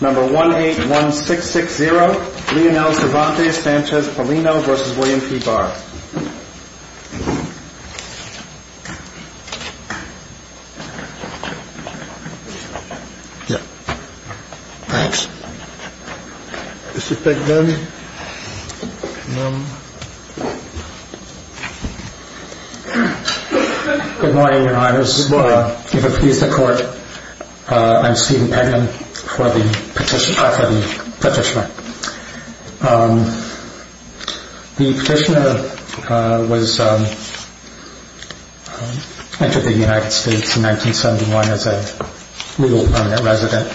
181660 Leonel Cervantes Sanchez Paulino v. William P. Barr Good morning Your Honors. If it pleases the court, I'm Stephen Pennon for the petitioner. The petitioner entered the United States in 1971 as a legal permanent resident.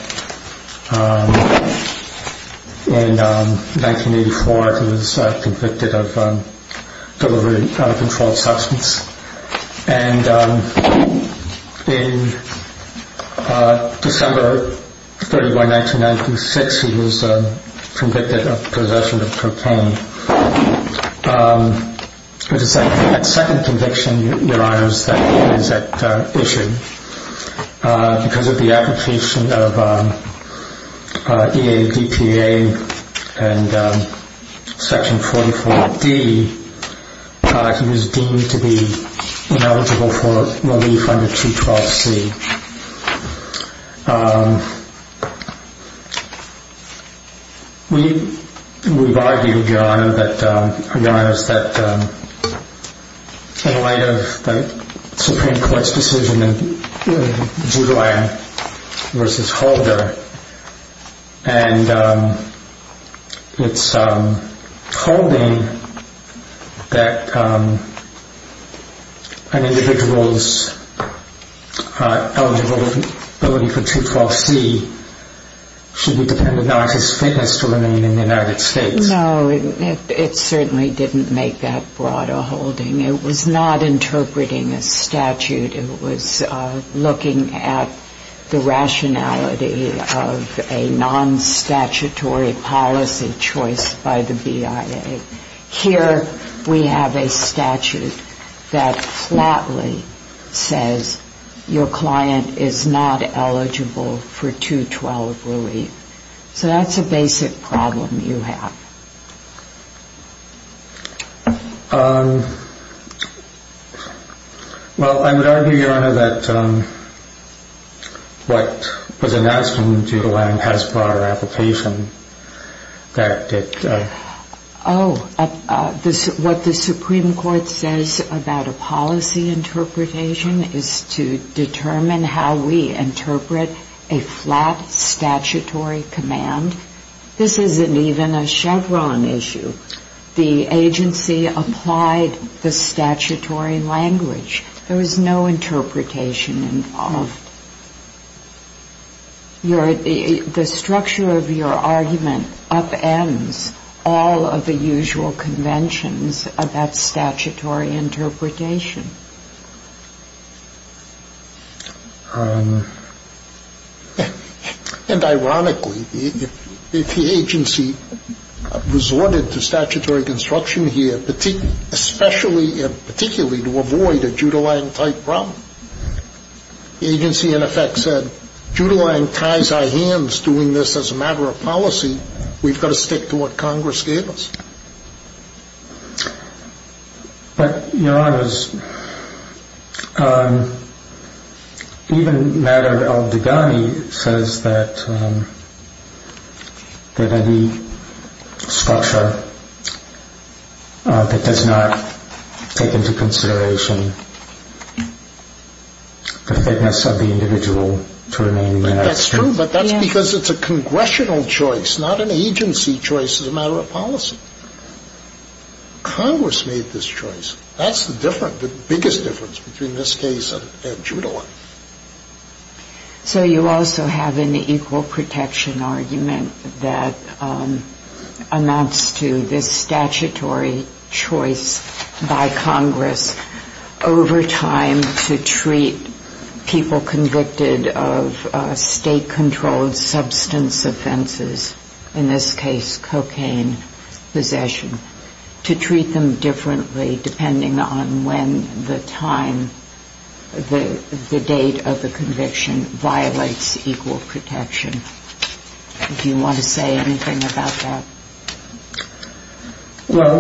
In 1984 he was convicted of delivering uncontrolled substance. In December 31, 1996 he was convicted of possession of cocaine. It was at second conviction that he was issued. Because of the application of EADPA and section 44D he was deemed to be ineligible for relief under 212C. We've argued, Your Honor, that in light of the Supreme Court's decision in Jude Lawyer v. Holder, and its holding that an individual's eligibility for 212C should be dependent on his fitness to remain in the United States. No, it certainly didn't make that broader holding. It was not interpreting a statute. It was looking at the rationality of a non-statutory policy choice by the BIA. Here we have a statute that flatly says your client is not eligible for 212 relief. So that's a basic problem you have. Well, I would argue, Your Honor, that what was announced in the Jude Lawyer v. Hasbroughter application... Oh, what the Supreme Court says about a policy interpretation is to determine how we interpret a flat statutory command. This isn't even a Chevron issue. The agency applied the statutory language. There was no interpretation involved. The structure of your argument upends all of the usual conventions about statutory interpretation. And ironically, if the agency resorted to statutory construction here, especially and particularly to avoid a Jude Lawyer-type problem, the agency, in effect, said, Jude Lawyer ties our hands doing this as a matter of policy. We've got to stick to what Congress gave us. But, Your Honors, even matter of the gun, it says that any structure that does not take into consideration the fitness of the individual to remain in the United States... Congress made this choice. That's the difference, the biggest difference between this case and Jude Law. So you also have an equal protection argument that amounts to this statutory choice by Congress over time to treat people convicted of state-controlled substance offenses, in this case cocaine possession, to treat them differently depending on when the time, the date of the conviction violates equal protection. Do you want to say anything about that? Well,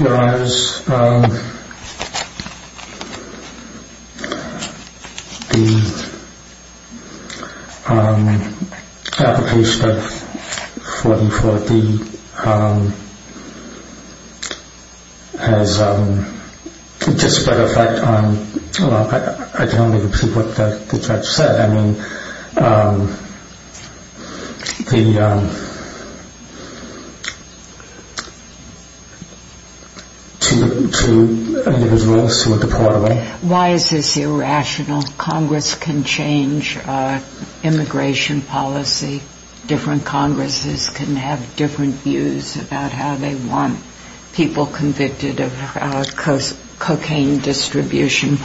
Your Honors, the application of 44D has just as a matter of fact... Well, I don't think it's what the judge said. Why is this irrational? Congress can change immigration policy. Different Congresses can have different views about how they want people convicted of cocaine distribution,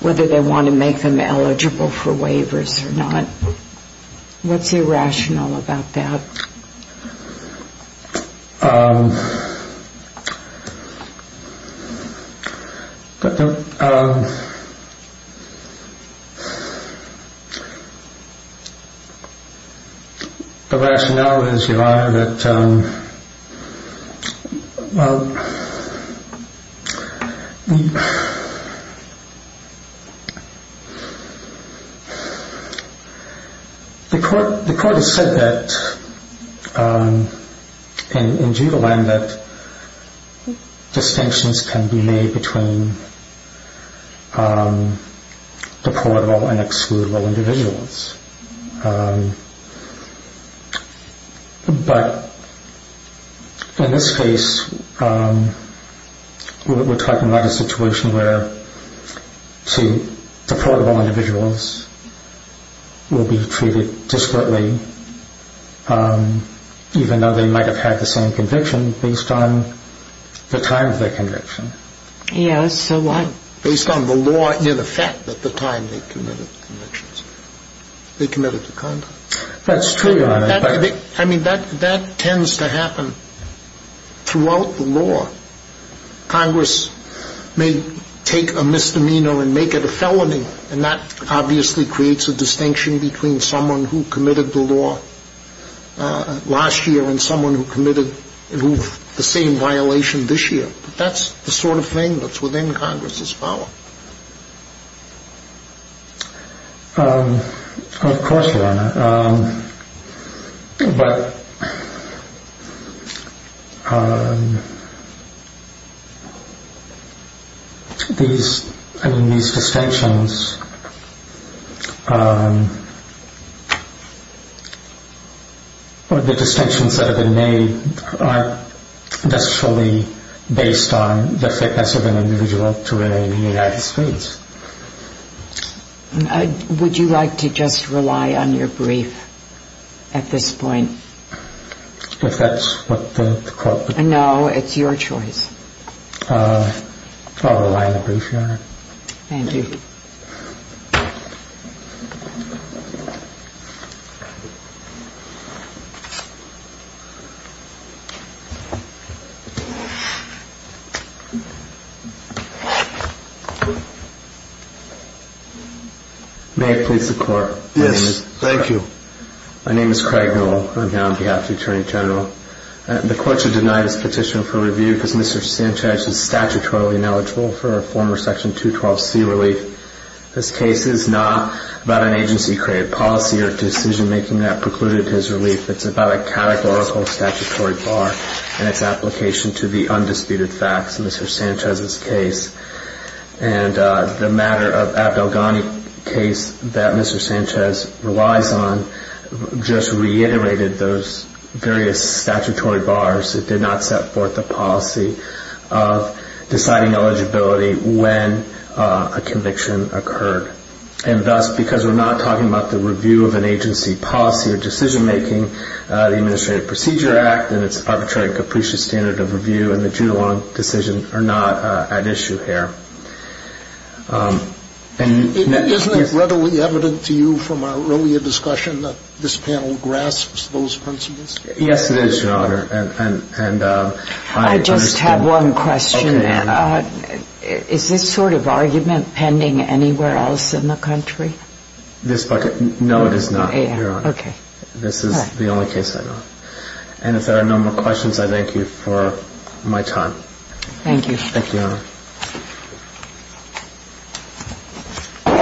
whether they want to make them eligible for waivers or not. What's irrational about that? Irrational is, Your Honor, that... But in this case, we're talking about a situation where two deportable individuals will be treated disparately, even though they might have had the same conviction, based on the time of their conviction. Yes, so what? Based on the law in effect at the time they committed the convictions. They committed the conduct. That's true, Your Honor. I mean, that tends to happen throughout the law. Congress may take a misdemeanor and make it a felony, and that obviously creates a distinction between someone who committed the law last year and someone who committed the same violation this year. That's the sort of thing that's within Congress's power. But these distinctions, the distinctions that have been made, aren't necessarily based on the fitness of an individual to remain in the United States. Would you like to just rely on your brief at this point? If that's what the court... No, it's your choice. I'll rely on the brief, Your Honor. Thank you. May it please the Court. Yes, thank you. My name is Craig Newell. I'm here on behalf of the Attorney General. The Court should deny this petition for review because Mr. Sanchez is statutorily ineligible for a former Section 212C relief. This case is not about an agency-created policy or decision-making that precluded his relief. It's about a categorical statutory bar and its application to the undisputed facts in Mr. Sanchez's case. And the matter of Abdel Ghani case that Mr. Sanchez relies on just reiterated those various statutory bars that did not set forth the policy of deciding eligibility when a conviction occurred. And thus, because we're not talking about the review of an agency policy or decision-making, the Administrative Procedure Act and its Arbitrary Capricious Standard of Review and the Judulon decision are not at issue here. Isn't it readily evident to you from our earlier discussion that this panel grasps those principles? Yes, it is, Your Honor. I just have one question. Is this sort of argument pending anywhere else in the country? No, it is not, Your Honor. Okay. This is the only case I know of. And if there are no more questions, I thank you for my time. Thank you, Your Honor.